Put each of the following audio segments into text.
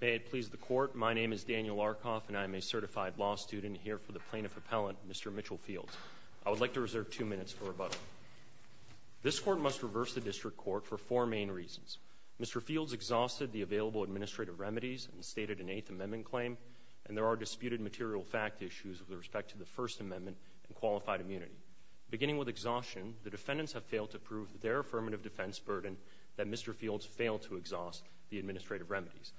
May it please the court, my name is Daniel Arkoff and I am a certified law student here for the plaintiff appellant, Mr. Mitchell Fields. I would like to reserve two minutes for rebuttal. This court must reverse the district court for four main reasons. Mr. Fields exhausted the available administrative remedies and stated an Eighth Amendment claim and there are disputed material fact issues with respect to the First Amendment and qualified immunity. Beginning with exhaustion, the defendants have failed to prove their affirmative defense burden that Mr. Fields failed to exhaust the administrative remedies.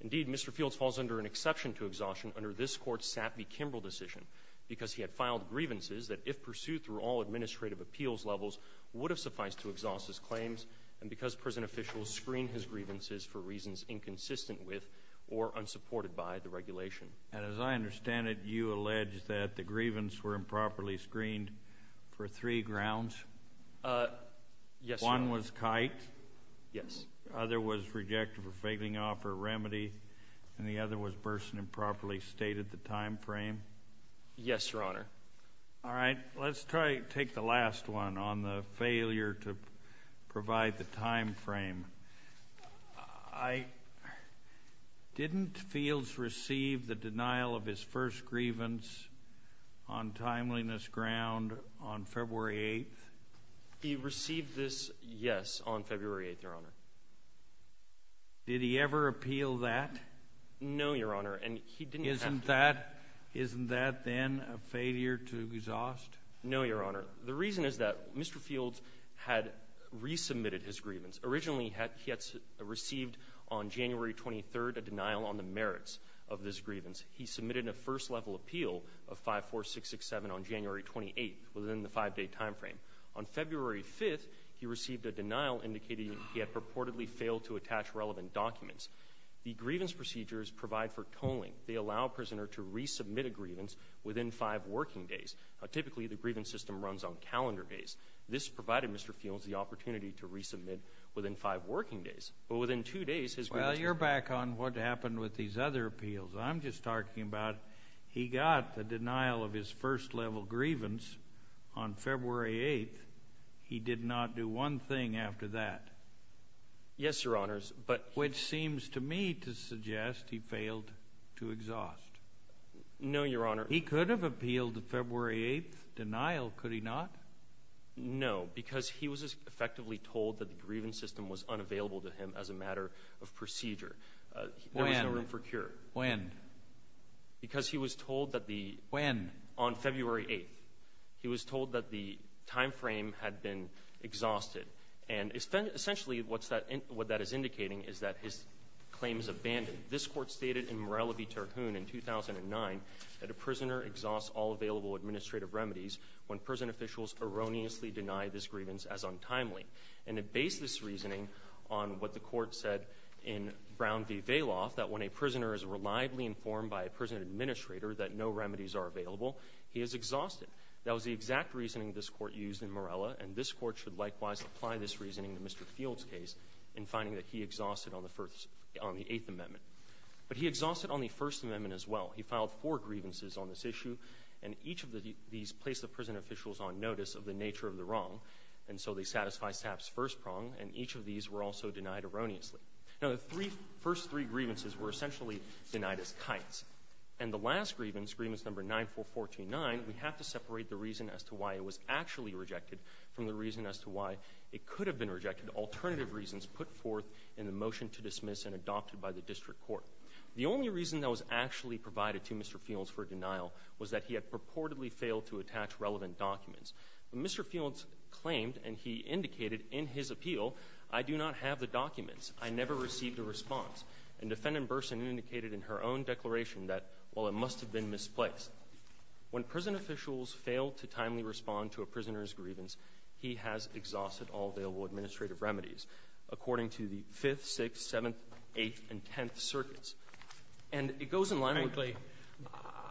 Indeed, Mr. Fields falls under an exception to exhaustion under this court's Sappy-Kimbrough decision because he had filed grievances that if pursued through all administrative appeals levels would have sufficed to exhaust his claims and because prison officials screened his grievances for reasons inconsistent with or unsupported by the regulation. And as I understand it, you allege that the grievance were improperly screened for three grounds? Yes, Your Honor. One was kite? Yes. The other was rejected for failing to offer a remedy and the other was Burson improperly stated the time frame? Yes, Your Honor. All right, let's try to take the last one on the failure to provide the time frame. I, didn't Fields receive the denial of his first grievance on timeliness ground on February 8th? He received this, yes, on February 8th, Your Honor. Did he ever appeal that? No, Your Honor, and he didn't have. Isn't that, isn't that then a failure to exhaust? No, Your Honor. The reason is that Mr. Fields had resubmitted his grievance. Originally he had received on January 23rd a denial on the merits of this grievance. He submitted a first level appeal of 54667 on January 28th within the five-day time frame. On February 5th, he received a denial indicating he had purportedly failed to attach relevant documents. The grievance procedures provide for tolling. They allow a prisoner to resubmit a grievance within five working days. Now, typically, the grievance system runs on calendar days. This provided Mr. Fields the opportunity to resubmit within five working days, but within two days, his grievance... Well, you're back on what happened with these other appeals. I'm just talking about he got the denial of his first level grievance on February 8th. He did not do one thing after that. Yes, Your Honors, but... Which seems to me to suggest he failed to exhaust. No, Your Honor. He could have appealed the February 8th denial, could he not? No, because he was effectively told that the grievance system was unavailable to him as a matter of procedure. When? There was no room for cure. When? Because he was told that the... When? On February 8th. He was told that the time frame had been exhausted. And essentially what that is indicating is that his claim is abandoned. This Court stated in Morella v. Terhune in 2009 that a prisoner exhausts all available administrative remedies when prison officials erroneously deny this grievance as untimely. And it based this reasoning on what the Court said in Brown v. Vailoff, that when a prisoner is reliably informed by a prison administrator that no remedies are available, he is exhausted. That was the exact reasoning this Court used in Morella, and this Court should likewise apply this reasoning to Mr. Fields' case in finding that he exhausted on the First... on the Eighth Amendment. But he exhausted on the First Amendment as well. He filed four grievances on this issue, and each of these placed the prison officials on notice of the nature of the wrong, and so they satisfy Stapp's first prong, and each of these were also denied erroneously. Now, the three... first three grievances were essentially denied as kites. And the last grievance, Grievance No. 94429, we have to separate the reason as to why it was actually rejected from the reason as to why it could have been rejected, alternative reasons put forth in the motion to dismiss and adopted by the District Court. The only reason that was actually provided to Mr. Fields for denial was that he had purportedly failed to attach relevant documents. Mr. Fields claimed, and he indicated in his appeal, I do not have the documents. I never received a response. And Defendant Burson indicated in her own declaration that, well, it must have been misplaced. When prison officials fail to timely respond to a prisoner's grievance, he has exhausted all available administrative remedies, according to the 5th, 6th, 7th, 8th, and 10th circuits. And it goes in line with...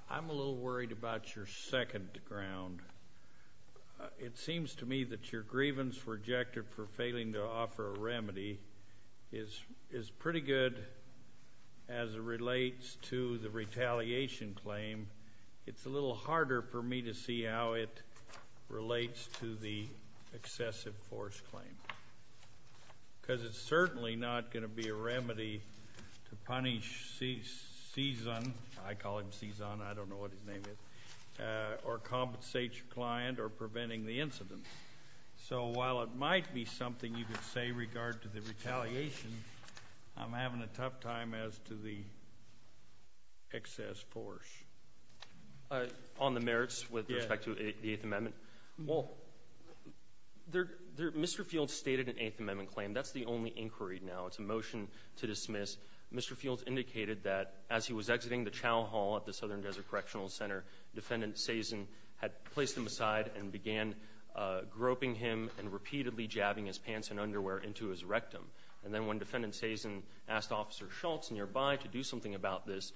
I'm a little worried about your second ground. It seems to me that your grievance rejected for failing to offer a remedy is pretty good as it relates to the retaliation claim. It's a little harder for me to see how it relates to the excessive force claim, because it's certainly not going to be a remedy to punish Cizan, I call him Cizan, I don't know what his name is, or compensate your client, or preventing the incident. So while it might be something you could say regard to the retaliation, I'm having a tough time as to the excess force. On the merits with respect to the 8th Amendment? Well, Mr. Fields stated an 8th Amendment claim, that's the only inquiry now, it's a motion to dismiss. Mr. Fields indicated that as he was exiting the Chow Hall at the Southern Desert Correctional Center, Defendant Cizan had placed him aside and began groping him and repeatedly jabbing his pants and underwear into his rectum. And then when Defendant Cizan asked Officer Schultz nearby to do something about this,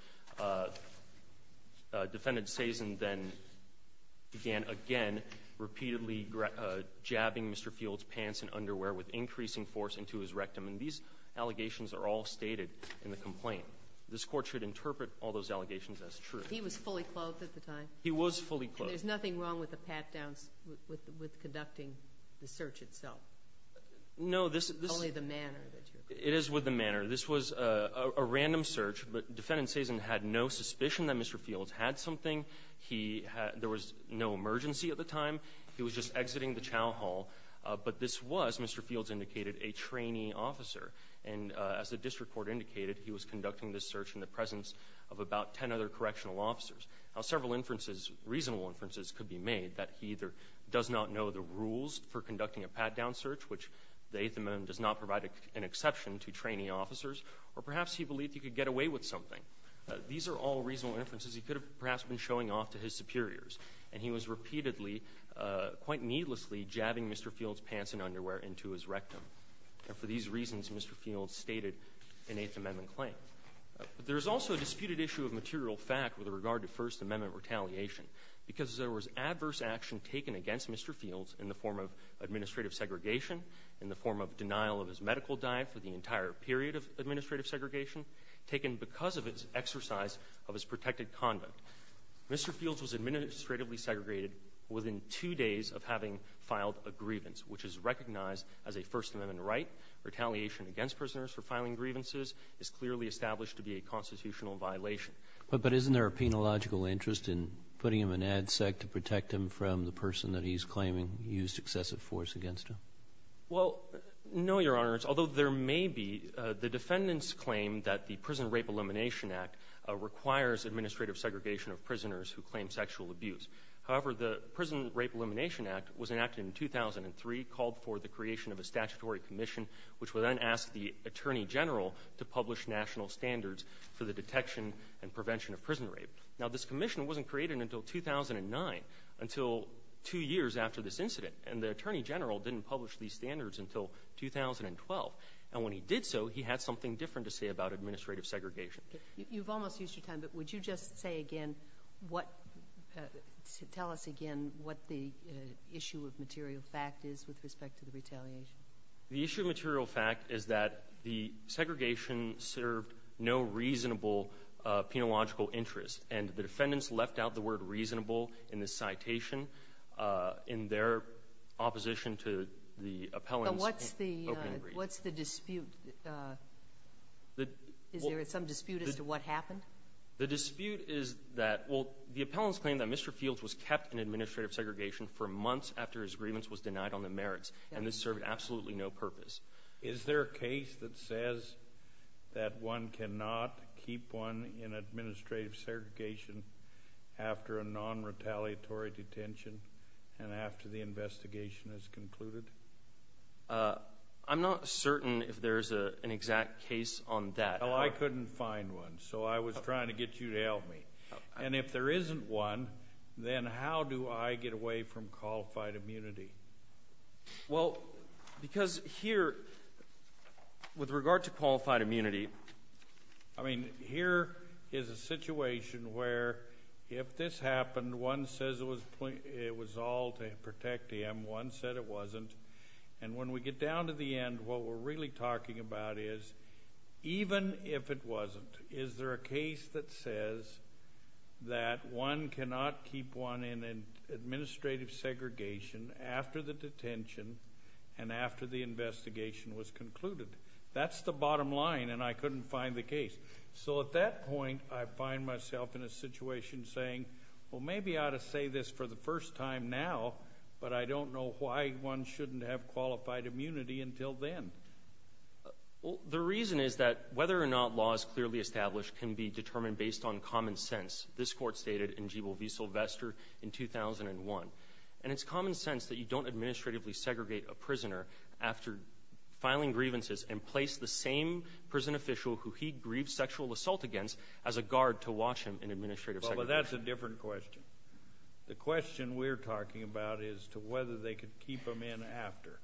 Defendant Cizan then began again repeatedly jabbing Mr. Fields' pants and underwear with increasing force into his rectum. And these allegations are all stated in the complaint. This Court should interpret all those allegations as true. He was fully clothed at the time? He was fully clothed. And there's nothing wrong with the pat-downs, with conducting the search itself? No, this is the man. It is with the manner. This was a random search, but Defendant Cizan had no suspicion that Mr. Fields had something. He had no emergency at the time. He was just exiting the Chow Hall. But this was, Mr. Fields indicated, a trainee officer. And as the district court indicated, he was conducting this search in the presence of about ten other correctional officers. Now, several inferences, reasonable inferences, could be made that he either does not know the rules for conducting a pat-down search, which the 8th Amendment does not provide an exception to trainee officers, or perhaps he believed he could get away with something. These are all reasonable inferences. He could have perhaps been showing off to his superiors. And he was repeatedly, quite needlessly, jabbing Mr. Fields' pants and underwear into his rectum. And for these reasons, Mr. Fields stated an 8th Amendment claim. But there is also a disputed issue of material fact with regard to First Amendment retaliation. Because there was adverse action taken against Mr. Fields in the form of administrative segregation, in the form of denial of his medical diet for the entire period of administrative segregation, taken because of his exercise of his protected conduct. Mr. Fields was administratively segregated within two days of having filed a grievance, which is recognized as a First Amendment right. Retaliation against prisoners for filing grievances is clearly established to be a constitutional violation. But isn't there a penological interest in putting him in ADSEC to protect him from the person that he's claiming used excessive force against him? Well, no, Your Honors. Although there may be, the defendants claim that the Prison Rape Elimination Act requires administrative segregation of prisoners who claim sexual abuse. However, the Prison Rape Elimination Act was enacted in 2003, called for the creation of a statutory commission, which would then ask the Attorney General to publish national standards for the detection and prevention of prison rape. Now, this commission wasn't created until 2009, until two years after this incident. And the Attorney General didn't publish these standards until 2012. And when he did so, he had something different to say about administrative segregation. You've almost used your time, but would you just say again, what, tell us again what the issue of material fact is with respect to the retaliation? The issue of material fact is that the segregation served no reasonable penological interest, and the defendants left out the word reasonable in this citation. In their opposition to the appellant's- But what's the dispute? Is there some dispute as to what happened? The dispute is that, well, the appellant's claim that Mr. Fields was kept in administrative segregation for absolutely no purpose. Is there a case that says that one cannot keep one in administrative segregation after a non-retaliatory detention and after the investigation is concluded? I'm not certain if there's an exact case on that. Well, I couldn't find one, so I was trying to get you to help me. And if there isn't one, then how do I get away from qualified immunity? Well, because here, with regard to qualified immunity, I mean, here is a situation where if this happened, one says it was all to protect him, one said it wasn't, and when we get down to the end, what we're really talking about is, even if it wasn't, is there a case that says that one cannot keep one in administrative segregation after the detention and after the investigation was concluded? That's the bottom line, and I couldn't find the case. So at that point, I find myself in a situation saying, well, maybe I ought to say this for the first time now, but I don't know why one shouldn't have qualified immunity until then. The reason is that whether or not law is clearly established can be determined based on And it's common sense that you don't administratively segregate a prisoner after filing grievances and place the same prison official who he grieved sexual assault against as a guard to watch him in administrative segregation. Well, but that's a different question. The question we're talking about is to whether they could keep him in after.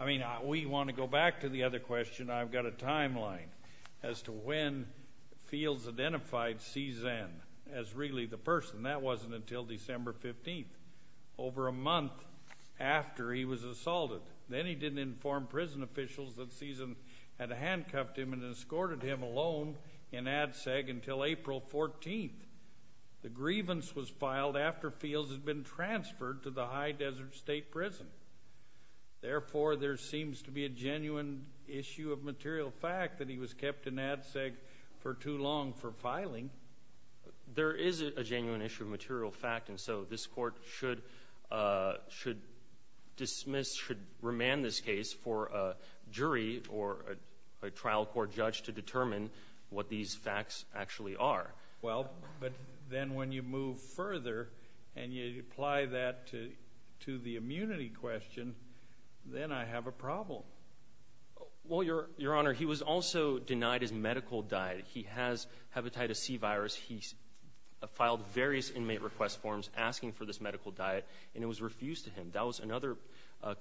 I mean, we want to go back to the other question. I've got a timeline as to when Fields identified C Zen as really the person. And that wasn't until December 15th, over a month after he was assaulted. Then he didn't inform prison officials that C Zen had handcuffed him and escorted him alone in Ad Seg until April 14th. The grievance was filed after Fields had been transferred to the High Desert State Prison. Therefore, there seems to be a genuine issue of material fact that he was kept in Ad Seg for too long for filing. There is a genuine issue of material fact. And so this court should dismiss, should remand this case for a jury or a trial court judge to determine what these facts actually are. Well, but then when you move further and you apply that to the immunity question, then I have a problem. Well, Your Honor, he was also denied his medical diet. He has hepatitis C virus. He filed various inmate request forms asking for this medical diet, and it was refused to him. That was another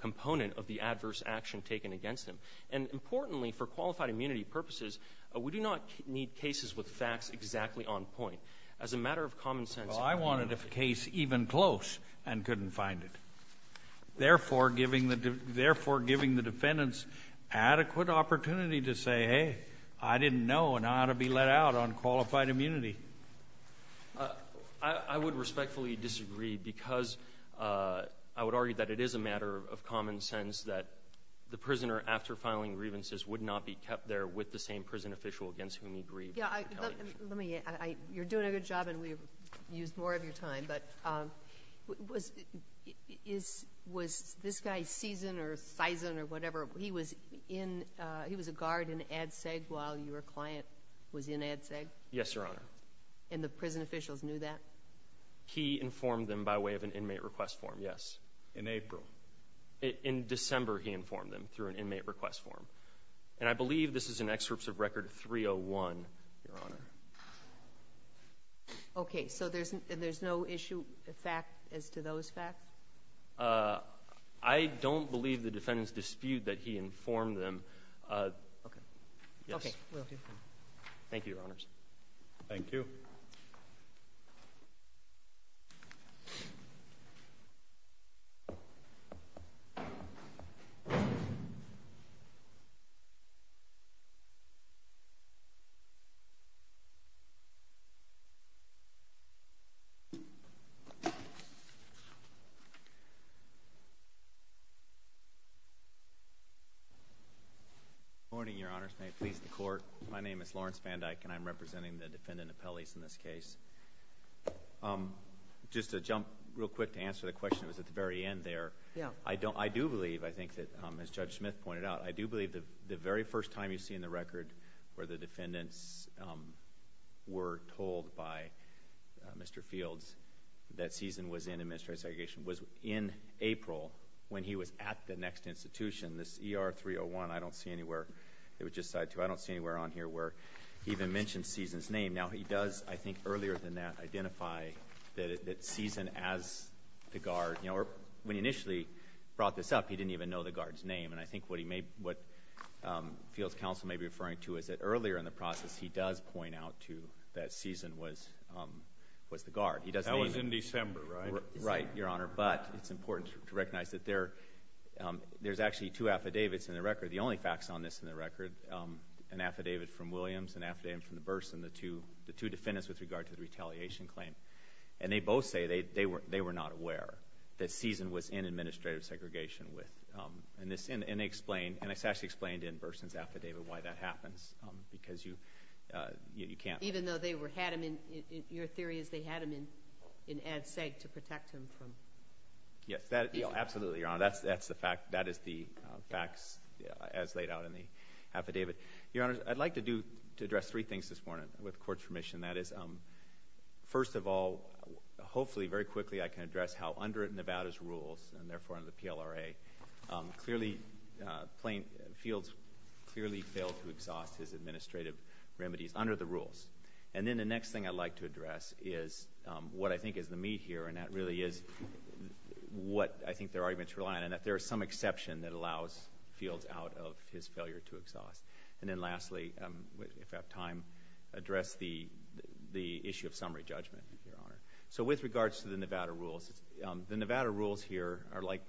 component of the adverse action taken against him. And importantly, for qualified immunity purposes, we do not need cases with facts exactly on point. As a matter of common sense- Well, I wanted a case even close and couldn't find it. Therefore, giving the defendants adequate opportunity to say, hey, I didn't know and I ought to be let out on qualified immunity. I would respectfully disagree because I would argue that it is a matter of common sense that the prisoner after filing grievances would not be kept there with the same prison official against whom he grieved. Yeah, let me, you're doing a good job and we've used more of your time. But was this guy Season or whatever, he was a guard in Ad Seg while your client was in Ad Seg? Yes, Your Honor. And the prison officials knew that? He informed them by way of an inmate request form, yes. In April. In December, he informed them through an inmate request form. And I believe this is an excerpts of record 301, Your Honor. Okay, so there's no issue, fact as to those facts? I don't believe the defendants dispute that he informed them. Okay. Thank you, Your Honors. Thank you. Good morning, Your Honors, may it please the court. My name is Lawrence Van Dyke and I'm representing the defendant appellees in this case. Just to jump real quick to answer the question, it was at the very end there. Yeah. I do believe, I think that as Judge Smith pointed out, I do believe that the very first time you see in the record where the defendants were told by Mr. Fields that Ceason was in administrative segregation was in April when he was at the next institution. This ER 301, I don't see anywhere, it was just side two, I don't see anywhere on here where he even mentioned Ceason's name. Now he does, I think earlier than that, identify that Ceason as the guard. When he initially brought this up, he didn't even know the guard's name. And I think what Fields' counsel may be referring to is that earlier in the process, he does point out to that Ceason was the guard. That was in December, right? Right, Your Honor, but it's important to recognize that there's actually two affidavits in the record. The only facts on this in the record, an affidavit from Williams, an affidavit from the Burson, the two defendants with regard to the retaliation claim. And they both say they were not aware that Ceason was in administrative segregation with, and they explain, and it's actually explained in Burson's affidavit why that happens, because you can't- Even though they were had him in, your theory is they had him in ad seg to protect him from- Yes, absolutely, Your Honor, that is the facts as laid out in the affidavit. Your Honor, I'd like to address three things this morning, with court's permission. That is, first of all, hopefully very quickly I can address how under Nevada's rules and therefore under the PLRA, Fields clearly failed to exhaust his administrative remedies. Under the rules. And then the next thing I'd like to address is what I think is the meat here, and that really is what I think their arguments rely on, and that there is some exception that allows Fields out of his failure to exhaust. And then lastly, if I have time, address the issue of summary judgment, Your Honor. So with regards to the Nevada rules, the Nevada rules here are like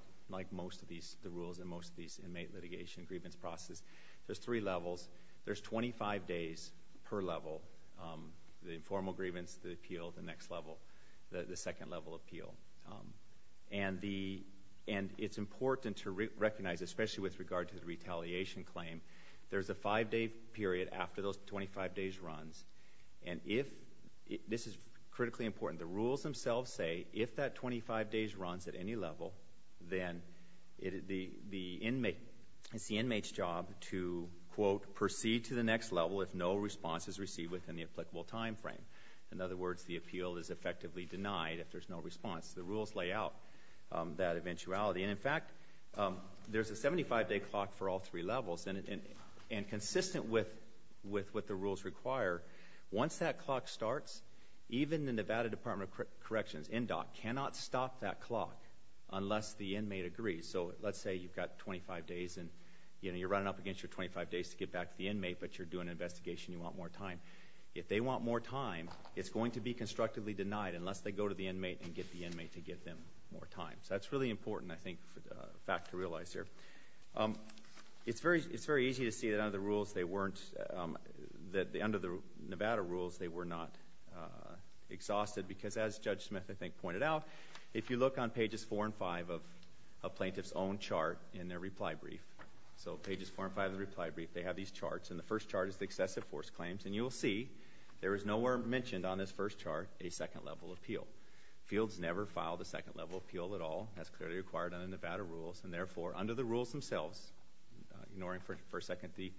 most of these, the rules in most of these inmate litigation grievance processes, there's three levels. There's 25 days per level, the informal grievance, the appeal, the next level, the second level appeal. And it's important to recognize, especially with regard to the retaliation claim, there's a five day period after those 25 days runs. And if, this is critically important, the rules themselves say, if that 25 days runs at any level, then it's the inmate's job to, proceed to the next level if no response is received within the applicable time frame. In other words, the appeal is effectively denied if there's no response. The rules lay out that eventuality. And in fact, there's a 75 day clock for all three levels, and consistent with what the rules require, once that clock starts, even the Nevada Department of Corrections, NDOC, cannot stop that clock unless the inmate agrees. So let's say you've got 25 days, and you're running up against your 25 days to get back to the inmate, but you're doing an investigation, you want more time. If they want more time, it's going to be constructively denied, unless they go to the inmate and get the inmate to give them more time. So that's really important, I think, fact to realize here. It's very easy to see that under the rules, they weren't, that under the Nevada rules, they were not exhausted because as Judge Smith, I think, pointed out. If you look on pages four and five of a plaintiff's own chart in their reply brief. So pages four and five of the reply brief, they have these charts. And the first chart is the excessive force claims. And you will see, there is nowhere mentioned on this first chart, a second level appeal. Fields never filed a second level appeal at all, as clearly required under Nevada rules. And therefore, under the rules themselves, ignoring for a second the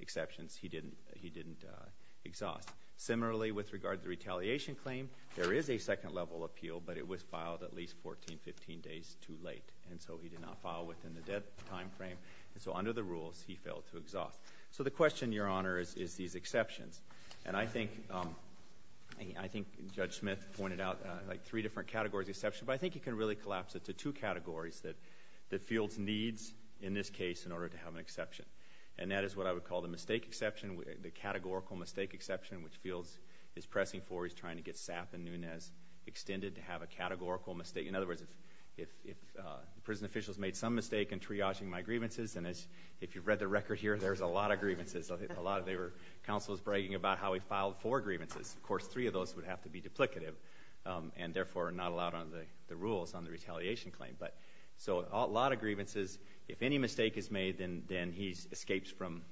exceptions, he didn't exhaust. Similarly, with regard to the retaliation claim, there is a second level appeal, but it was filed at least 14, 15 days too late. And so he did not file within the dead time frame. And so under the rules, he failed to exhaust. So the question, Your Honor, is these exceptions. And I think Judge Smith pointed out three different categories of exception. But I think you can really collapse it to two categories that the fields needs, in this case, in order to have an exception. And that is what I would call the mistake exception, the categorical mistake exception, which Fields is pressing for. He's trying to get Sapp and Nunez extended to have a categorical mistake. In other words, if prison officials made some mistake in triaging my grievances, and if you've read the record here, there's a lot of grievances. A lot of them were counsels bragging about how he filed four grievances. Of course, three of those would have to be duplicative, and therefore, not allowed under the rules on the retaliation claim. But so a lot of grievances, if any mistake is made, then he escapes from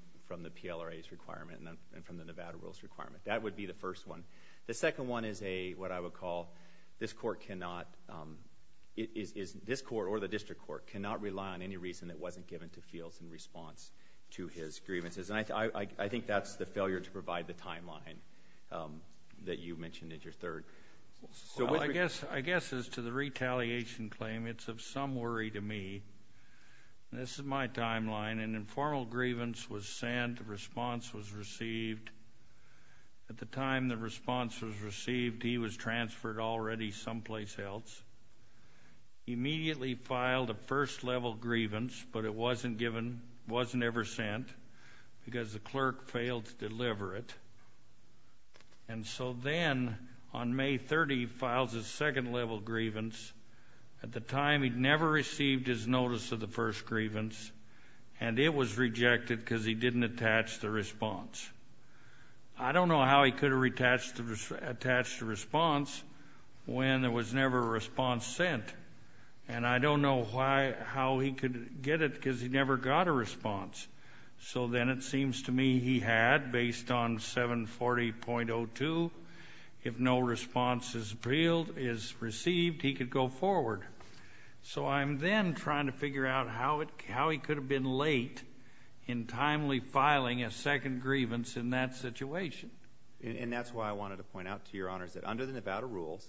the PLRA's requirement and from the Nevada rules requirement. That would be the first one. The second one is a, what I would call, this court cannot, this court or the district court cannot rely on any reason that wasn't given to Fields in response to his grievances. And I think that's the failure to provide the timeline that you mentioned at your third. So I guess, I guess as to the retaliation claim, it's of some worry to me. This is my timeline. An informal grievance was sent, a response was received. At the time the response was received, he was transferred already someplace else. Immediately filed a first level grievance, but it wasn't given, wasn't ever sent, because the clerk failed to deliver it. And so then, on May 30, he files a second level grievance. At the time, he'd never received his notice of the first grievance, and it was rejected because he didn't attach the response. I don't know how he could have attached the response when there was never a response sent. And I don't know why, how he could get it because he never got a response. So then it seems to me he had, based on 740.02, if no response is received, he could go forward. So I'm then trying to figure out how he could have been late in timely filing a second grievance in that situation. And that's why I wanted to point out to your honors that under the Nevada rules,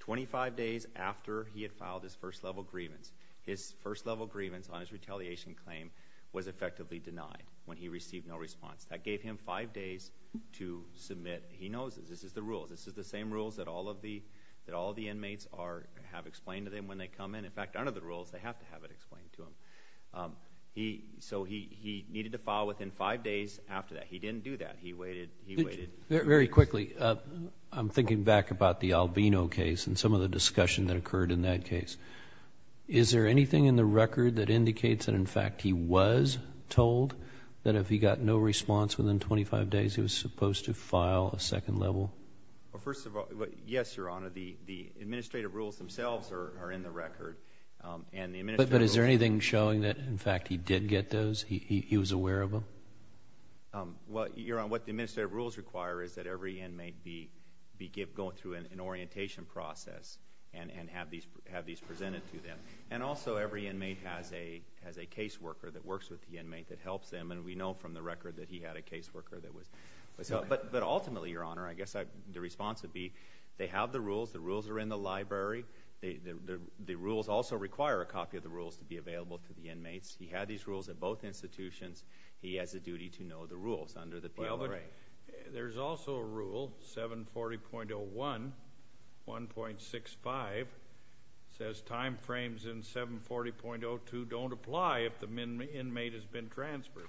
25 days after he had filed his first level grievance, his first level grievance on his retaliation claim was effectively denied when he received no response. That gave him five days to submit, he knows this, this is the rules. This is the same rules that all of the inmates have explained to them when they come in. In fact, under the rules, they have to have it explained to them. So he needed to file within five days after that. He didn't do that. He waited. Very quickly, I'm thinking back about the Albino case and some of the discussion that occurred in that case. Is there anything in the record that indicates that in fact he was told that if he got no response within 25 days, he was supposed to file a second level? First of all, yes, your honor, the administrative rules themselves are in the record. And the administrative rules- But is there anything showing that in fact he did get those, he was aware of them? Well, your honor, what the administrative rules require is that every inmate be going through an orientation process and have these presented to them. And also, every inmate has a case worker that works with the inmate that helps them. And we know from the record that he had a case worker that was. But ultimately, your honor, I guess the response would be, they have the rules, the rules are in the library. The rules also require a copy of the rules to be available to the inmates. He had these rules at both institutions. He has a duty to know the rules under the PLRA. There's also a rule, 740.01, 1.65, says time frames in 740.02 don't apply if the inmate has been transferred.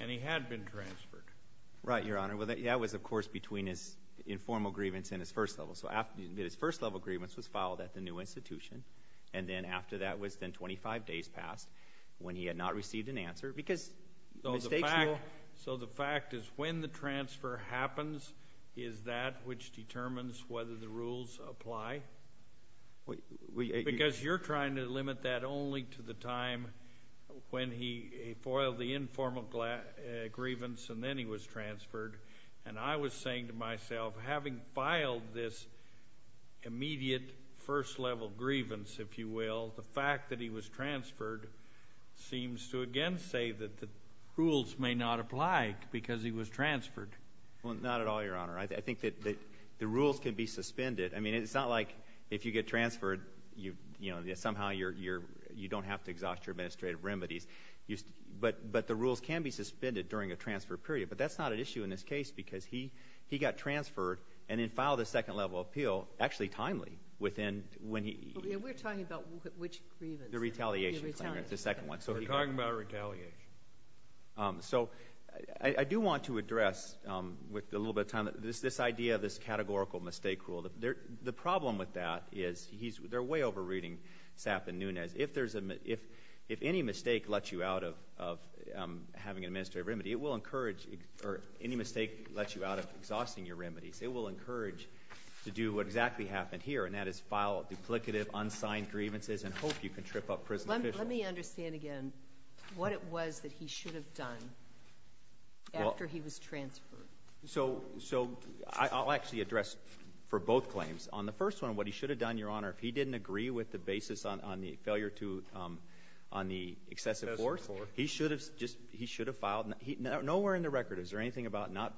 And he had been transferred. Right, your honor. Well, that was, of course, between his informal grievance and his first level. So his first level grievance was filed at the new institution. And then after that was then 25 days passed when he had not received an answer. Because mistakes will- So the fact is, when the transfer happens, is that which determines whether the rules apply? Because you're trying to limit that only to the time when he foiled the informal grievance and then he was transferred. And I was saying to myself, having filed this immediate first level grievance, if you will, the fact that he was transferred seems to again say that the rules may not apply because he was transferred. Well, not at all, your honor. I think that the rules can be suspended. I mean, it's not like if you get transferred, somehow you don't have to exhaust your administrative remedies. But the rules can be suspended during a transfer period. But that's not an issue in this case because he got transferred and then filed a second level appeal, actually timely, within when he- We're talking about which grievance? The retaliation, your honor, the second one. We're talking about retaliation. So I do want to address with a little bit of time, this idea of this categorical mistake rule. The problem with that is they're way over reading Sapp and Nunez. If any mistake lets you out of having an administrative remedy, it will encourage, or any mistake lets you out of exhausting your remedies, it will encourage to do what exactly happened here, and that is file duplicative unsigned grievances and hope you can trip up prison officials. Let me understand again what it was that he should have done after he was transferred. So I'll actually address for both claims. On the first one, what he should have done, your honor, if he didn't agree with the basis on the failure to, on the excessive force. He should have just, he should have filed, nowhere in the record is there anything about not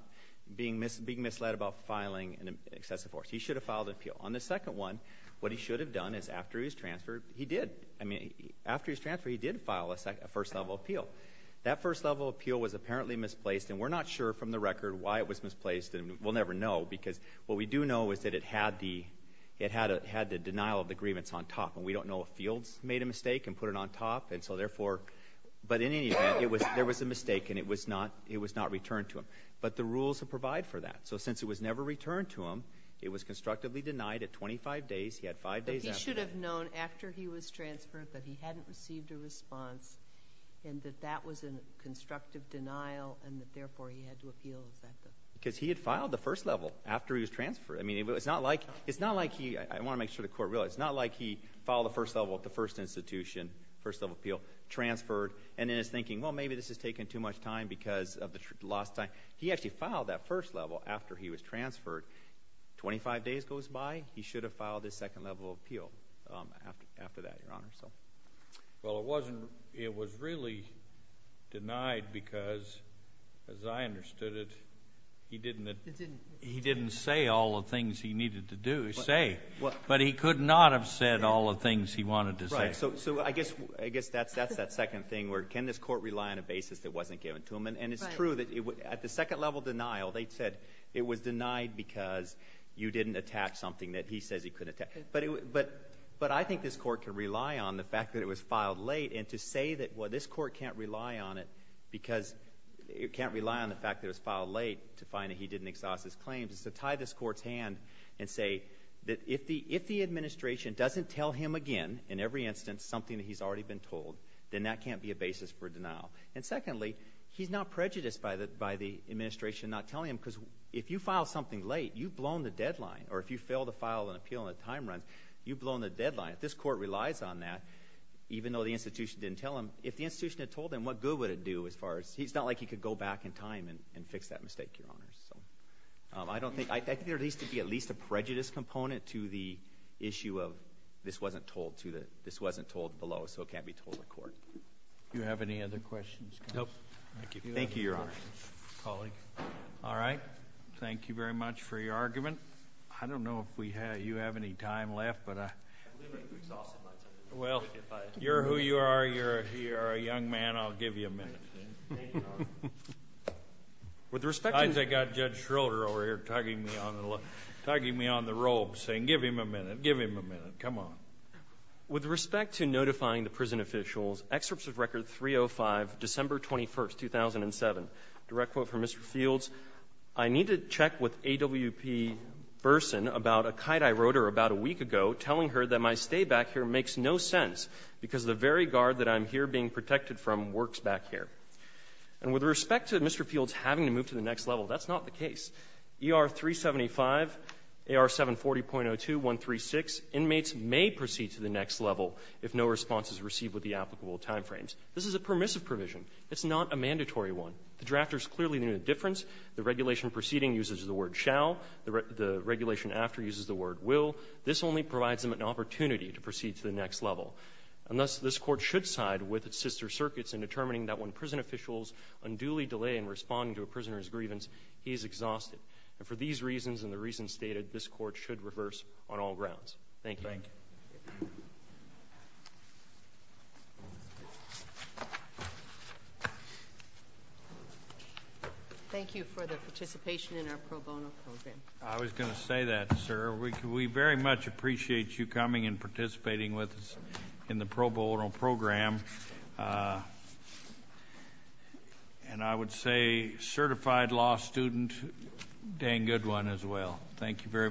being misled about filing an excessive force. He should have filed an appeal. On the second one, what he should have done is after his transfer, he did. I mean, after his transfer, he did file a first level appeal. That first level appeal was apparently misplaced, and we're not sure from the record why it was misplaced. We'll never know, because what we do know is that it had the denial of the agreements on top. And we don't know if Fields made a mistake and put it on top, and so therefore, but in any event, there was a mistake and it was not returned to him. But the rules provide for that. So since it was never returned to him, it was constructively denied at 25 days, he had five days after that. But he should have known after he was transferred that he hadn't received a response, and that that was a constructive denial, and that therefore he had to appeal, is that the? Because he had filed the first level after he was transferred. I mean, it's not like he, I want to make sure the court realized, it's not like he filed the first level at the first institution, first level appeal, transferred. And then is thinking, well, maybe this is taking too much time because of the lost time. He actually filed that first level after he was transferred. 25 days goes by, he should have filed his second level of appeal after that, your honor, so. Well, it wasn't, it was really denied because, as I understood it, he didn't. It didn't. He didn't say all the things he needed to do, say. What? But he could not have said all the things he wanted to say. Right, so, so I guess, I guess that's, that's that second thing where can this court rely on a basis that wasn't given to him? And, and it's true that it, at the second level denial, they said it was denied because you didn't attach something that he says he couldn't attach. But it, but, but I think this court can rely on the fact that it was filed late and to say that, well, this court can't rely on it because it can't rely on the fact that it was filed late to find that he didn't exhaust his claims. It's to tie this court's hand and say that if the, if the administration doesn't tell him again, in every instance, something that he's already been told, then that can't be a basis for denial. And secondly, he's not prejudiced by the, by the administration not telling him because if you file something late, you've blown the deadline, or if you fail to file an appeal in a time run, you've blown the deadline. If this court relies on that, even though the institution didn't tell him, if the institution had told him, what good would it do as far as, it's not like he could go back in time and, and fix that mistake, your honors, so. I don't think, I, I think there needs to be at least a prejudice component to the issue of this wasn't told to the, this wasn't told below, so it can't be told to the court. Do you have any other questions? Nope. Thank you. Thank you, your honor. Colleague. All right. Thank you very much for your argument. I don't know if we have, you have any time left, but I. I'm a little bit exhausted, myself. Well, you're who you are, you're a, you're a young man, I'll give you a minute. With respect to. I think I've got Judge Schroeder over here tugging me on the, tugging me on the robe, saying give him a minute, give him a minute, come on. With respect to notifying the prison officials, excerpts of record 305, December 21st, 2007. Direct quote from Mr. Fields. I need to check with AWP Burson about a kite I wrote her about a week ago, telling her that my stay back here makes no sense because the very guard that I'm here being protected from works back here. And with respect to Mr. Fields having to move to the next level, that's not the case. ER 375, AR 740.02136, inmates may proceed to the next level if no response is received with the applicable time frames. This is a permissive provision. It's not a mandatory one. The drafters clearly knew the difference. The regulation preceding uses the word shall, the regulation after uses the word will. This only provides them an opportunity to proceed to the next level. And thus, this court should side with its sister circuits in determining that when prison officials unduly delay in responding to a prisoner's grievance, he is exhausted. And for these reasons and the reasons stated, this court should reverse on all grounds. Thank you. Thank you for the participation in our pro bono program. I was going to say that, sir. We very much appreciate you coming and participating with us in the pro bono program. And I would say certified law student, dang good one as well. Thank you very much.